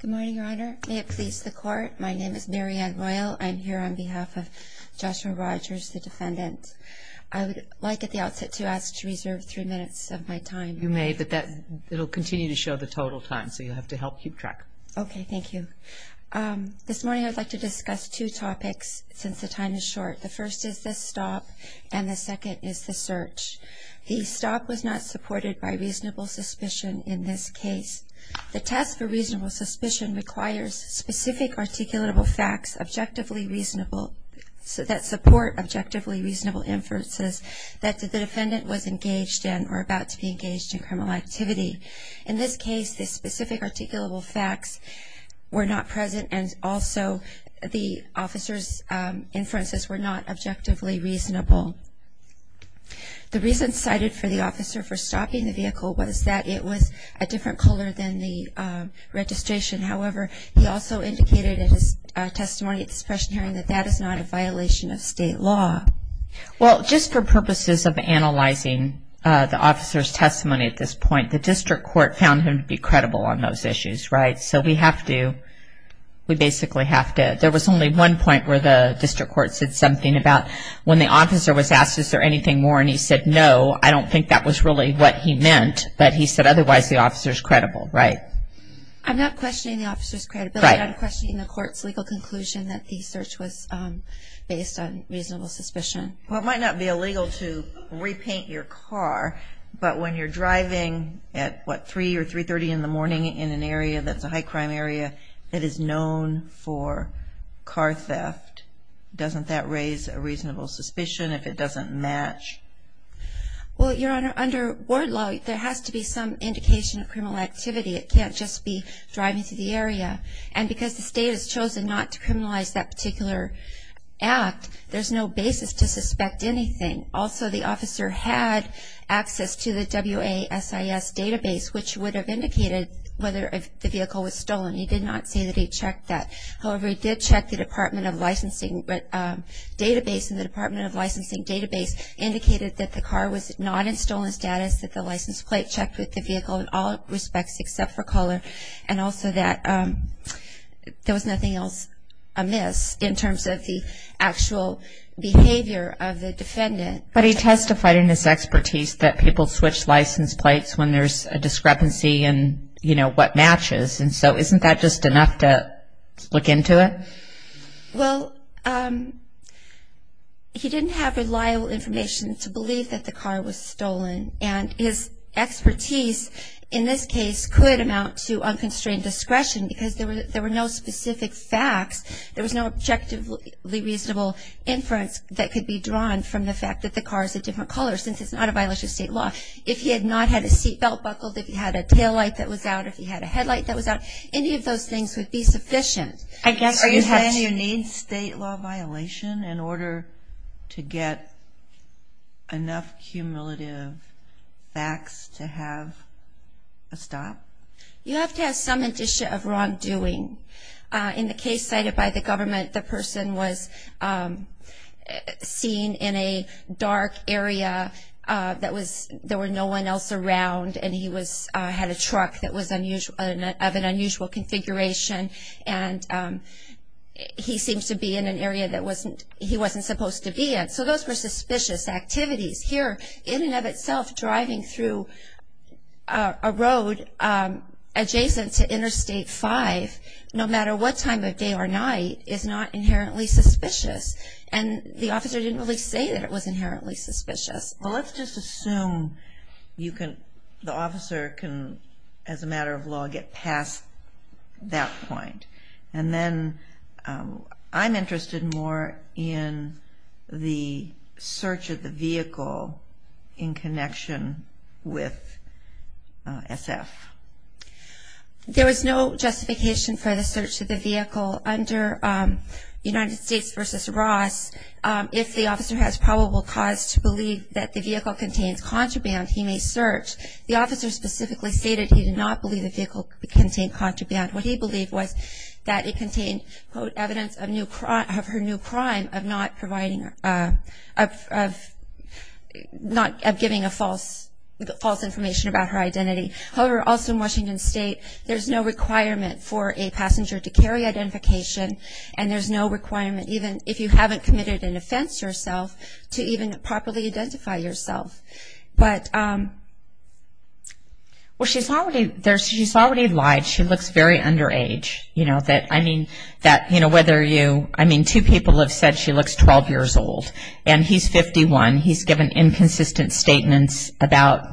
Good morning, Your Honor. May it please the Court. My name is Mary Ann Royal. I'm here on behalf of Joshua Rodgers, the defendant. I would like at the outset to ask to reserve three minutes of my time. You may, but it'll continue to show the total time, so you'll have to help keep track. Okay. Thank you. This morning I would like to discuss two topics, since the time is short. The first is the stop, and the second is the search. The stop was not supported by reasonable suspicion in this case. The test for reasonable suspicion requires specific articulable facts that support objectively reasonable inferences that the defendant was engaged in or about to be engaged in criminal activity. In this case, the specific articulable facts were not present, and also the officer's inferences were not objectively reasonable. The reason cited for the officer for stopping the vehicle was that it was a different color than the registration. However, he also indicated in his testimony at the suppression hearing that that is not a violation of state law. Well, just for purposes of analyzing the officer's testimony at this point, the district court found him to be credible on those issues, right? So we have to, we basically have to, there was only one point where the district court said something about when the officer was asked, is there anything more, and he said no, I don't think that was really what he meant, but he said otherwise the officer's credible, right? I'm not questioning the officer's credibility. Right. I'm questioning the court's legal conclusion that the search was based on reasonable suspicion. Well, it might not be illegal to repaint your car, but when you're driving at, what, 3 or 3.30 in the morning in an area that's a high-crime area, that is known for car theft, doesn't that raise a reasonable suspicion if it doesn't match? Well, Your Honor, under ward law, there has to be some indication of criminal activity. It can't just be driving through the area. And because the state has chosen not to criminalize that particular act, there's no basis to suspect anything. Also, the officer had access to the WASIS database, which would have indicated whether the vehicle was stolen. He did not say that he checked that. However, he did check the Department of Licensing database, and the Department of Licensing database indicated that the car was not in stolen status, that the license plate checked with the vehicle in all respects except for color, and also that there was nothing else amiss in terms of the actual behavior of the defendant. But he testified in his expertise that people switch license plates when there's a discrepancy in, you know, what matches. And so isn't that just enough to look into it? Well, he didn't have reliable information to believe that the car was stolen, and his expertise in this case could amount to unconstrained discretion because there were no specific facts. There was no objectively reasonable inference that could be drawn from the fact that the car is a different color, since it's not a violation of state law. If he had not had a seat belt buckled, if he had a taillight that was out, if he had a headlight that was out, any of those things would be sufficient. Are you saying you need state law violation in order to get enough cumulative facts to have a stop? You have to have some indicia of wrongdoing. In the case cited by the government, the person was seen in a dark area. There were no one else around, and he had a truck of an unusual configuration, and he seems to be in an area that he wasn't supposed to be in. So those were suspicious activities. Here, in and of itself, driving through a road adjacent to Interstate 5, no matter what time of day or night, is not inherently suspicious. And the officer didn't really say that it was inherently suspicious. Well, let's just assume the officer can, as a matter of law, get past that point. And then I'm interested more in the search of the vehicle in connection with SF. There was no justification for the search of the vehicle under United States v. Ross. If the officer has probable cause to believe that the vehicle contains contraband, he may search. The officer specifically stated he did not believe the vehicle contained contraband. What he believed was that it contained, quote, of her new crime of not giving false information about her identity. However, also in Washington State, there's no requirement for a passenger to carry identification, and there's no requirement, even if you haven't committed an offense yourself, to even properly identify yourself. Well, she's already lied. She looks very underage. I mean, two people have said she looks 12 years old, and he's 51. He's given inconsistent statements about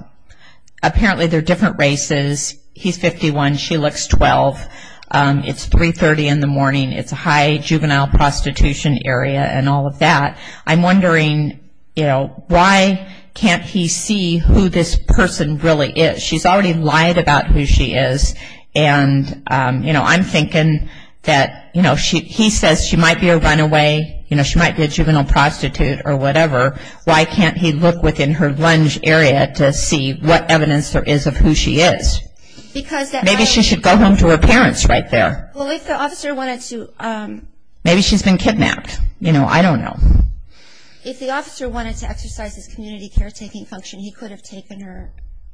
apparently they're different races. He's 51. She looks 12. It's 3.30 in the morning. It's a high juvenile prostitution area and all of that. I'm wondering, you know, why can't he see who this person really is? She's already lied about who she is. And, you know, I'm thinking that, you know, he says she might be a runaway. You know, she might be a juvenile prostitute or whatever. Why can't he look within her lunge area to see what evidence there is of who she is? Maybe she should go home to her parents right there. Well, if the officer wanted to... Maybe she's been kidnapped. You know, I don't know. If the officer wanted to exercise his community caretaking function, he could have taken her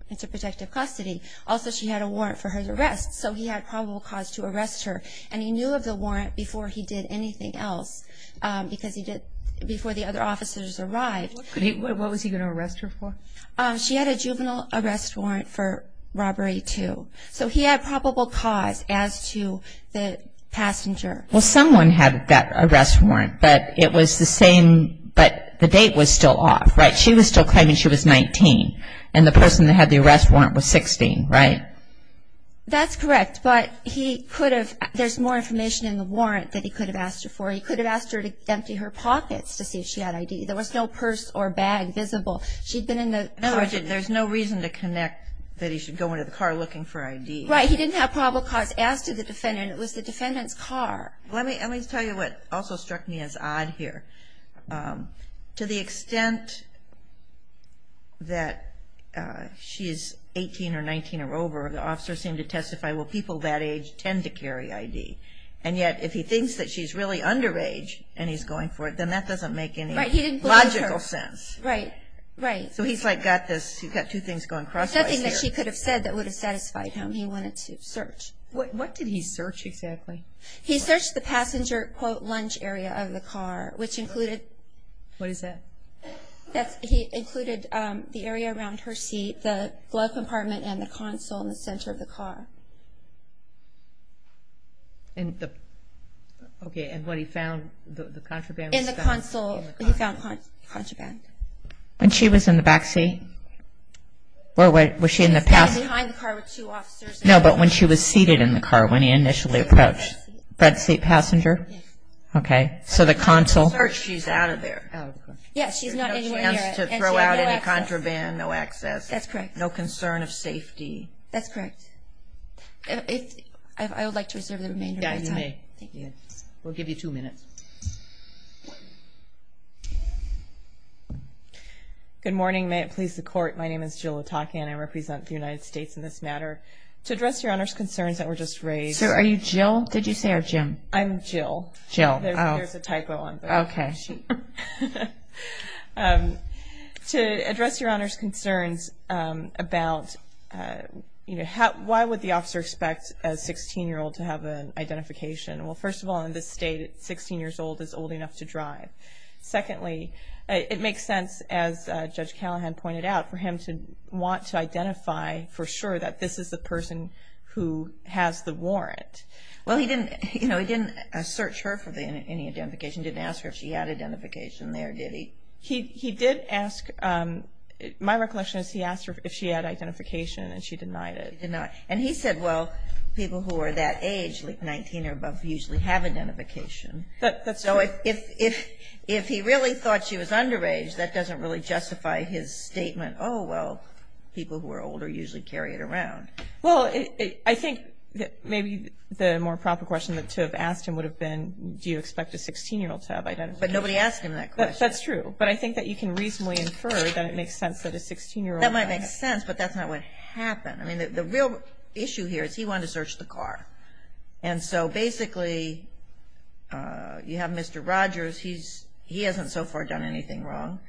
into protective custody. Also, she had a warrant for her arrest, so he had probable cause to arrest her. And he knew of the warrant before he did anything else, because he did before the other officers arrived. What was he going to arrest her for? She had a juvenile arrest warrant for robbery, too. So he had probable cause as to the passenger. Well, someone had that arrest warrant, but it was the same, but the date was still off, right? She was still claiming she was 19, and the person that had the arrest warrant was 16, right? That's correct, but he could have... There's more information in the warrant that he could have asked her for. He could have asked her to empty her pockets to see if she had ID. There was no purse or bag visible. She'd been in the car. No, there's no reason to connect that he should go into the car looking for ID. Right, he didn't have probable cause as to the defendant. It was the defendant's car. Let me tell you what also struck me as odd here. To the extent that she is 18 or 19 or over, the officer seemed to testify, well, people that age tend to carry ID, and yet if he thinks that she's really underage and he's going for it, then that doesn't make any logical sense. Right, he didn't believe her. Right, right. So he's, like, got this... he's got two things going crosswise here. There's nothing that she could have said that would have satisfied him. He wanted to search. What did he search exactly? He searched the passenger, quote, lunch area of the car, which included... What is that? He included the area around her seat, the glove compartment, and the console in the center of the car. Okay, and what he found, the contraband was found in the car? In the console, he found contraband. When she was in the back seat? Or was she in the passenger seat? He was standing behind the car with two officers. No, but when she was seated in the car, when he initially approached... Bed seat. Bed seat passenger? Yes. Okay, so the console... She's out of there. Out of the car. Yeah, she's not anywhere near it. No chance to throw out any contraband, no access. That's correct. No concern of safety. That's correct. I would like to reserve the remainder of my time. Yeah, you may. Thank you. We'll give you two minutes. Good morning. May it please the Court. My name is Jill Otake and I represent the United States in this matter. To address Your Honor's concerns that were just raised... Sir, are you Jill? Did you say you're Jim? I'm Jill. Jill, oh. There's a typo on there. Okay. To address Your Honor's concerns about, you know, why would the officer expect a 16-year-old to have an identification? Well, first of all, in this state, 16 years old is old enough to drive. Secondly, it makes sense, as Judge Callahan pointed out, for him to want to identify for sure that this is the person who has the warrant. Well, he didn't, you know, he didn't search her for any identification. He didn't ask her if she had identification there, did he? He did ask... My recollection is he asked her if she had identification and she denied it. And he said, well, people who are that age, like 19 or above, usually have identification. That's true. So if he really thought she was underage, that doesn't really justify his statement, oh, well, people who are older usually carry it around. Well, I think that maybe the more proper question to have asked him would have been, do you expect a 16-year-old to have identification? But nobody asked him that question. That's true. But I think that you can reasonably infer that it makes sense that a 16-year-old... That might make sense, but that's not what happened. I mean, the real issue here is he wanted to search the car. And so basically you have Mr. Rogers. He hasn't so far done anything wrong.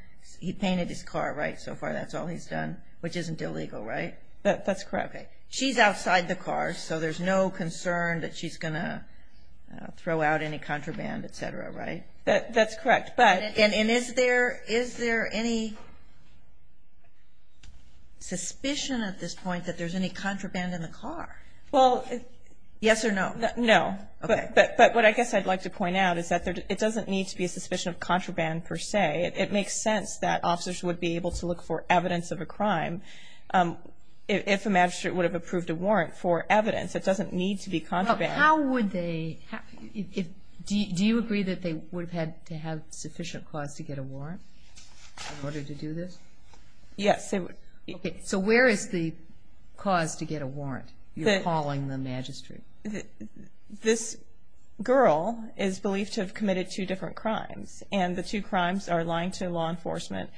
He painted his car right so far. That's all he's done, which isn't illegal, right? That's correct. Okay. She's outside the car, so there's no concern that she's going to throw out any contraband, et cetera, right? That's correct. And is there any suspicion at this point that there's any contraband in the car? Well... Yes or no? No. Okay. But what I guess I'd like to point out is that it doesn't need to be a suspicion of contraband per se. It makes sense that officers would be able to look for evidence of a crime if a magistrate would have approved a warrant for evidence. It doesn't need to be contraband. How would they? Do you agree that they would have had to have sufficient cause to get a warrant in order to do this? Yes. So where is the cause to get a warrant you're calling the magistrate? This girl is believed to have committed two different crimes, and the two crimes are lying to law enforcement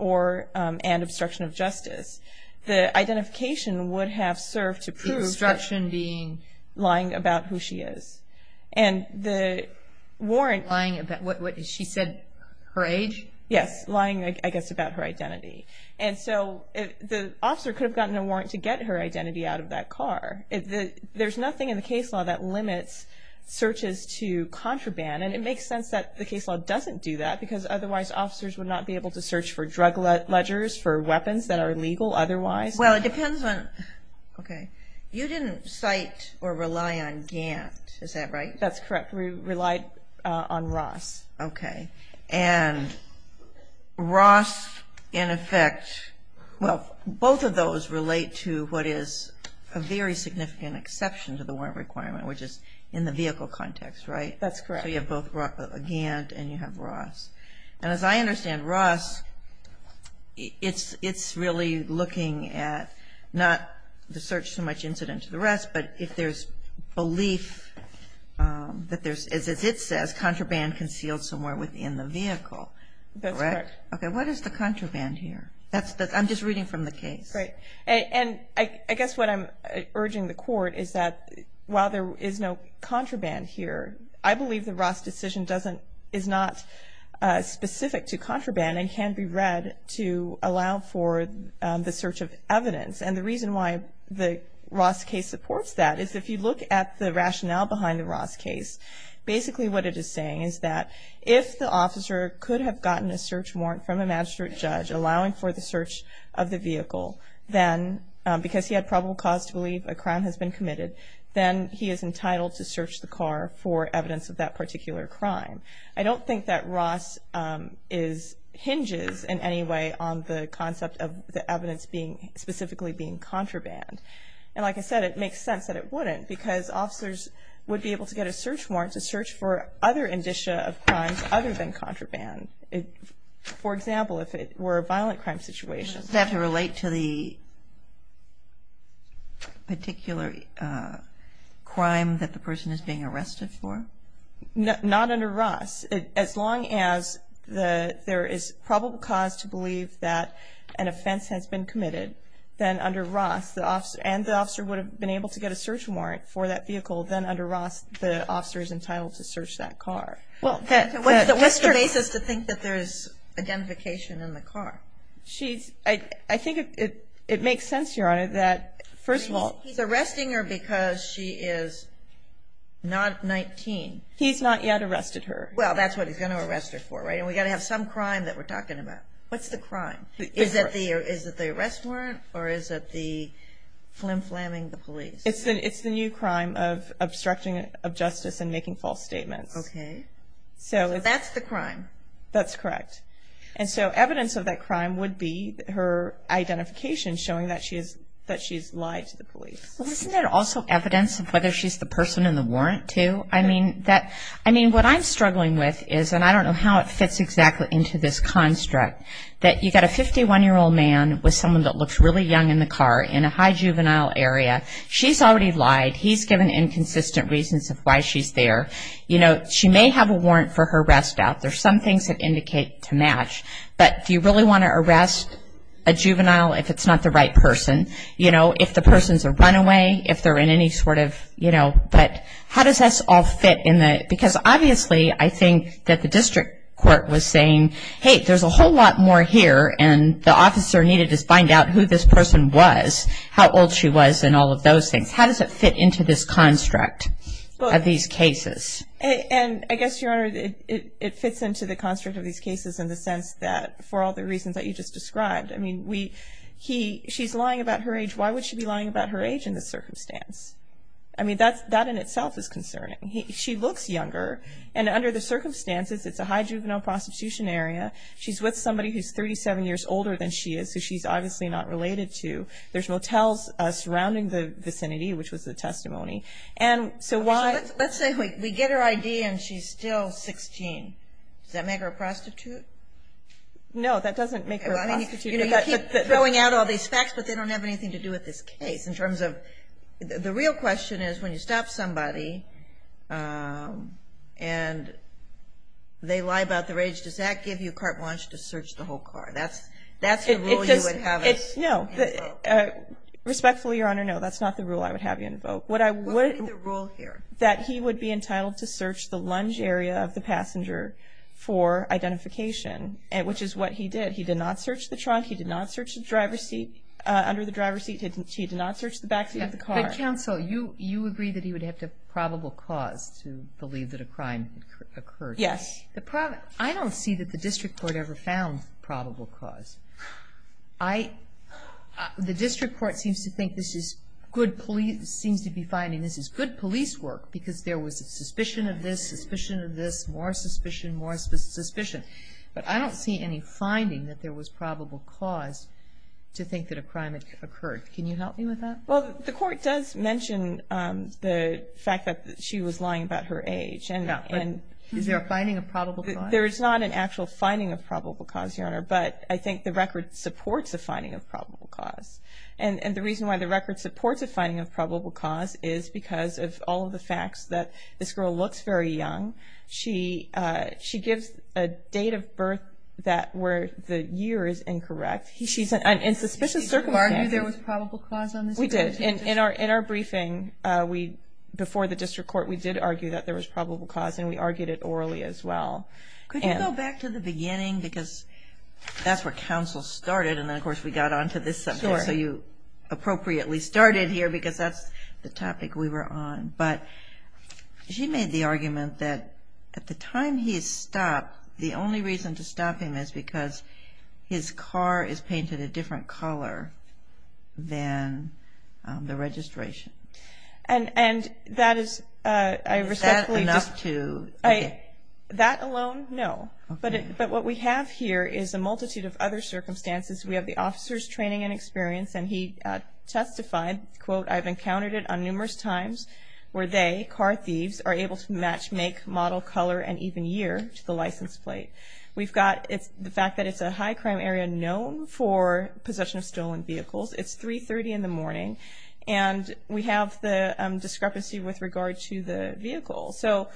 and obstruction of justice. The identification would have served to prove... The obstruction being? Lying about who she is. And the warrant... Lying about what? She said her age? Yes. Lying, I guess, about her identity. And so the officer could have gotten a warrant to get her identity out of that car. There's nothing in the case law that limits searches to contraband, and it makes sense that the case law doesn't do that because otherwise officers would not be able to search for drug ledgers, for weapons that are illegal otherwise. Well, it depends on... Okay. You didn't cite or rely on Gant, is that right? That's correct. We relied on Ross. Okay. And Ross, in effect... Well, both of those relate to what is a very significant exception to the warrant requirement, which is in the vehicle context, right? That's correct. So you have both Gant and you have Ross. And as I understand Ross, it's really looking at not the search so much incident to the rest, but if there's belief that there's, as it says, contraband concealed somewhere within the vehicle. That's correct. Okay. What is the contraband here? I'm just reading from the case. Great. And I guess what I'm urging the Court is that while there is no contraband here, I believe the Ross decision is not specific to contraband and can be read to allow for the search of evidence. And the reason why the Ross case supports that is if you look at the rationale behind the Ross case, basically what it is saying is that if the officer could have gotten a search warrant from a magistrate judge allowing for the search of the vehicle because he had probable cause to believe a crime has been committed, then he is entitled to search the car for evidence of that particular crime. I don't think that Ross hinges in any way on the concept of the evidence specifically being contraband. And like I said, it makes sense that it wouldn't because officers would be able to get a search warrant to search for other indicia of crimes other than contraband. For example, if it were a violent crime situation. Does it have to relate to the particular crime that the person is being arrested for? Not under Ross. As long as there is probable cause to believe that an offense has been committed, then under Ross and the officer would have been able to get a search warrant for that vehicle, then under Ross the officer is entitled to search that car. What's the basis to think that there's identification in the car? I think it makes sense, Your Honor, that first of all. He's arresting her because she is not 19. He's not yet arrested her. Well, that's what he's going to arrest her for, right? And we've got to have some crime that we're talking about. What's the crime? Is it the arrest warrant or is it the flim-flamming the police? It's the new crime of obstructing of justice and making false statements. Okay. So that's the crime. That's correct. And so evidence of that crime would be her identification showing that she has lied to the police. Well, isn't there also evidence of whether she's the person in the warrant too? I mean, what I'm struggling with is, and I don't know how it fits exactly into this construct, that you've got a 51-year-old man with someone that looks really young in the car in a high juvenile area. She's already lied. He's given inconsistent reasons of why she's there. You know, she may have a warrant for her arrest out. There's some things that indicate to match. But do you really want to arrest a juvenile if it's not the right person? You know, if the person's a runaway, if they're in any sort of, you know. But how does this all fit in the, because obviously I think that the district court was saying, hey, there's a whole lot more here and the officer needed to find out who this person was, how old she was and all of those things. How does it fit into this construct of these cases? And I guess, Your Honor, it fits into the construct of these cases in the sense that, for all the reasons that you just described, I mean, she's lying about her age. Why would she be lying about her age in this circumstance? I mean, that in itself is concerning. She looks younger. And under the circumstances, it's a high juvenile prosecution area. She's with somebody who's 37 years older than she is, who she's obviously not related to. There's motels surrounding the vicinity, which was the testimony. Let's say we get her ID and she's still 16. Does that make her a prostitute? No, that doesn't make her a prostitute. You know, you keep throwing out all these facts, but they don't have anything to do with this case in terms of, the real question is when you stop somebody and they lie about their age, does that give you carte blanche to search the whole car? That's the rule you would have us invoke. No. Respectfully, Your Honor, no, that's not the rule I would have you invoke. What would be the rule here? That he would be entitled to search the lunge area of the passenger for identification, which is what he did. He did not search the trunk. He did not search the driver's seat. Under the driver's seat, he did not search the back seat of the car. But, counsel, you agree that he would have to have probable cause to believe that a crime occurred. Yes. I don't see that the district court ever found probable cause. I, the district court seems to think this is good police, seems to be finding this is good police work because there was suspicion of this, suspicion of this, more suspicion, more suspicion. But I don't see any finding that there was probable cause to think that a crime had occurred. Can you help me with that? Well, the court does mention the fact that she was lying about her age. Is there a finding of probable cause? There is not an actual finding of probable cause, Your Honor, but I think the record supports a finding of probable cause. And the reason why the record supports a finding of probable cause is because of all of the facts, that this girl looks very young. She gives a date of birth where the year is incorrect. She's in suspicious circumstances. Did you argue there was probable cause on this? We did. In our briefing before the district court, we did argue that there was probable cause, and we argued it orally as well. Could you go back to the beginning? Because that's where counsel started, and then, of course, we got on to this subject. So you appropriately started here because that's the topic we were on. But she made the argument that at the time he is stopped, the only reason to stop him is because his car is painted a different color than the registration. And that is, I respectfully just – Is that enough to – That alone, no. But what we have here is a multitude of other circumstances. We have the officer's training and experience, and he testified, quote, I've encountered it on numerous times where they, car thieves, are able to match make, model, color, and even year to the license plate. We've got the fact that it's a high-crime area known for possession of stolen vehicles. It's 3.30 in the morning, and we have the discrepancy with regard to the vehicle. So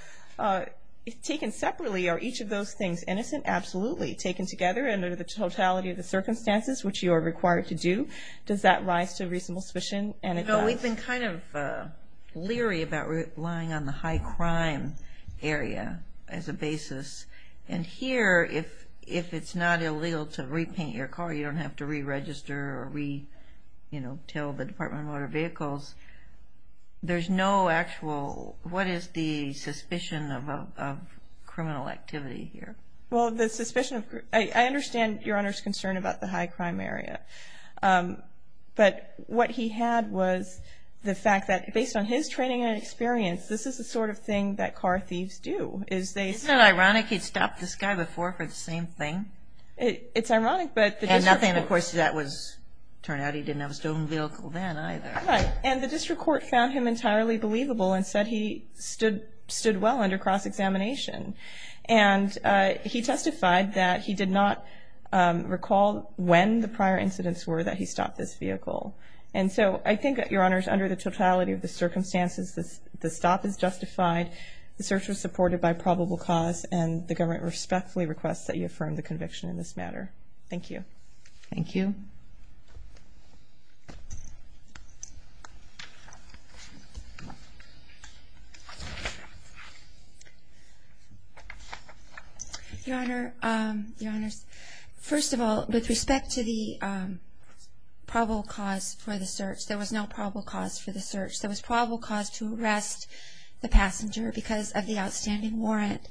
taken separately, are each of those things innocent? Absolutely. Taken together under the totality of the circumstances, which you are required to do, does that rise to a reasonable suspicion? No, we've been kind of leery about relying on the high-crime area as a basis. And here, if it's not illegal to repaint your car, you don't have to re-register or re-tell the Department of Motor Vehicles. There's no actual, what is the suspicion of criminal activity here? Well, the suspicion of, I understand Your Honor's concern about the high-crime area. But what he had was the fact that, based on his training and experience, this is the sort of thing that car thieves do. Isn't it ironic he'd stopped this guy before for the same thing? It's ironic, but the discrepancy. And, of course, that turned out he didn't have a stolen vehicle then either. And the district court found him entirely believable and said he stood well under cross-examination. And he testified that he did not recall when the prior incidents were that he stopped this vehicle. And so I think, Your Honors, under the totality of the circumstances, the stop is justified, the search was supported by probable cause, and the government respectfully requests that you affirm the conviction in this matter. Thank you. Thank you. Your Honor, Your Honors, first of all, with respect to the probable cause for the search, there was no probable cause for the search. There was probable cause to arrest the passenger because of the outstanding warrant.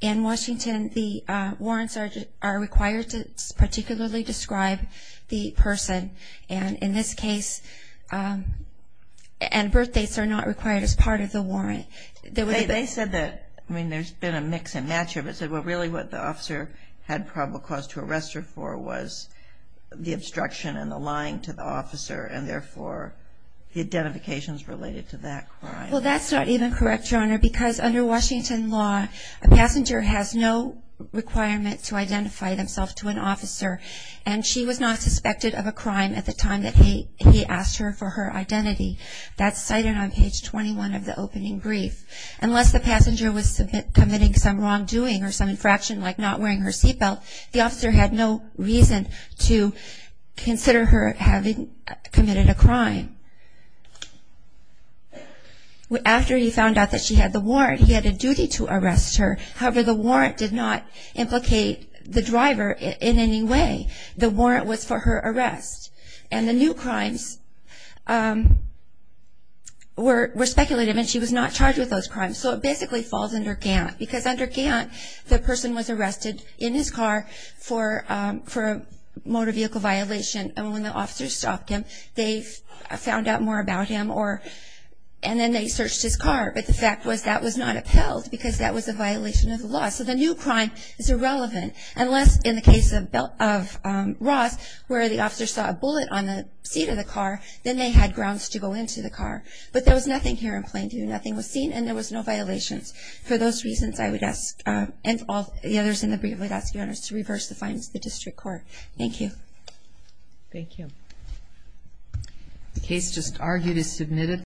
In Washington, the warrants are required to particularly describe the person. And in this case, birth dates are not required as part of the warrant. They said that, I mean, there's been a mix and match of it, but really what the officer had probable cause to arrest her for was the obstruction and the lying to the officer and, therefore, the identifications related to that crime. Well, that's not even correct, Your Honor, because under Washington law a passenger has no requirement to identify themselves to an officer, and she was not suspected of a crime at the time that he asked her for her identity. That's cited on page 21 of the opening brief. Unless the passenger was committing some wrongdoing or some infraction like not wearing her seatbelt, the officer had no reason to consider her having committed a crime. After he found out that she had the warrant, he had a duty to arrest her. However, the warrant did not implicate the driver in any way. The warrant was for her arrest. And the new crimes were speculative, and she was not charged with those crimes. So it basically falls under Gantt, because under Gantt, the person was arrested in his car for a motor vehicle violation, and when the officer stopped him, they found out more about him, and then they searched his car. But the fact was that was not upheld, because that was a violation of the law. So the new crime is irrelevant, unless in the case of Ross, where the officer saw a bullet on the seat of the car, then they had grounds to go into the car. But there was nothing here in plain view. Nothing was seen, and there was no violations. For those reasons, I would ask, and all the others in the brief, I would ask your honors to reverse the findings of the district court. Thank you. Thank you.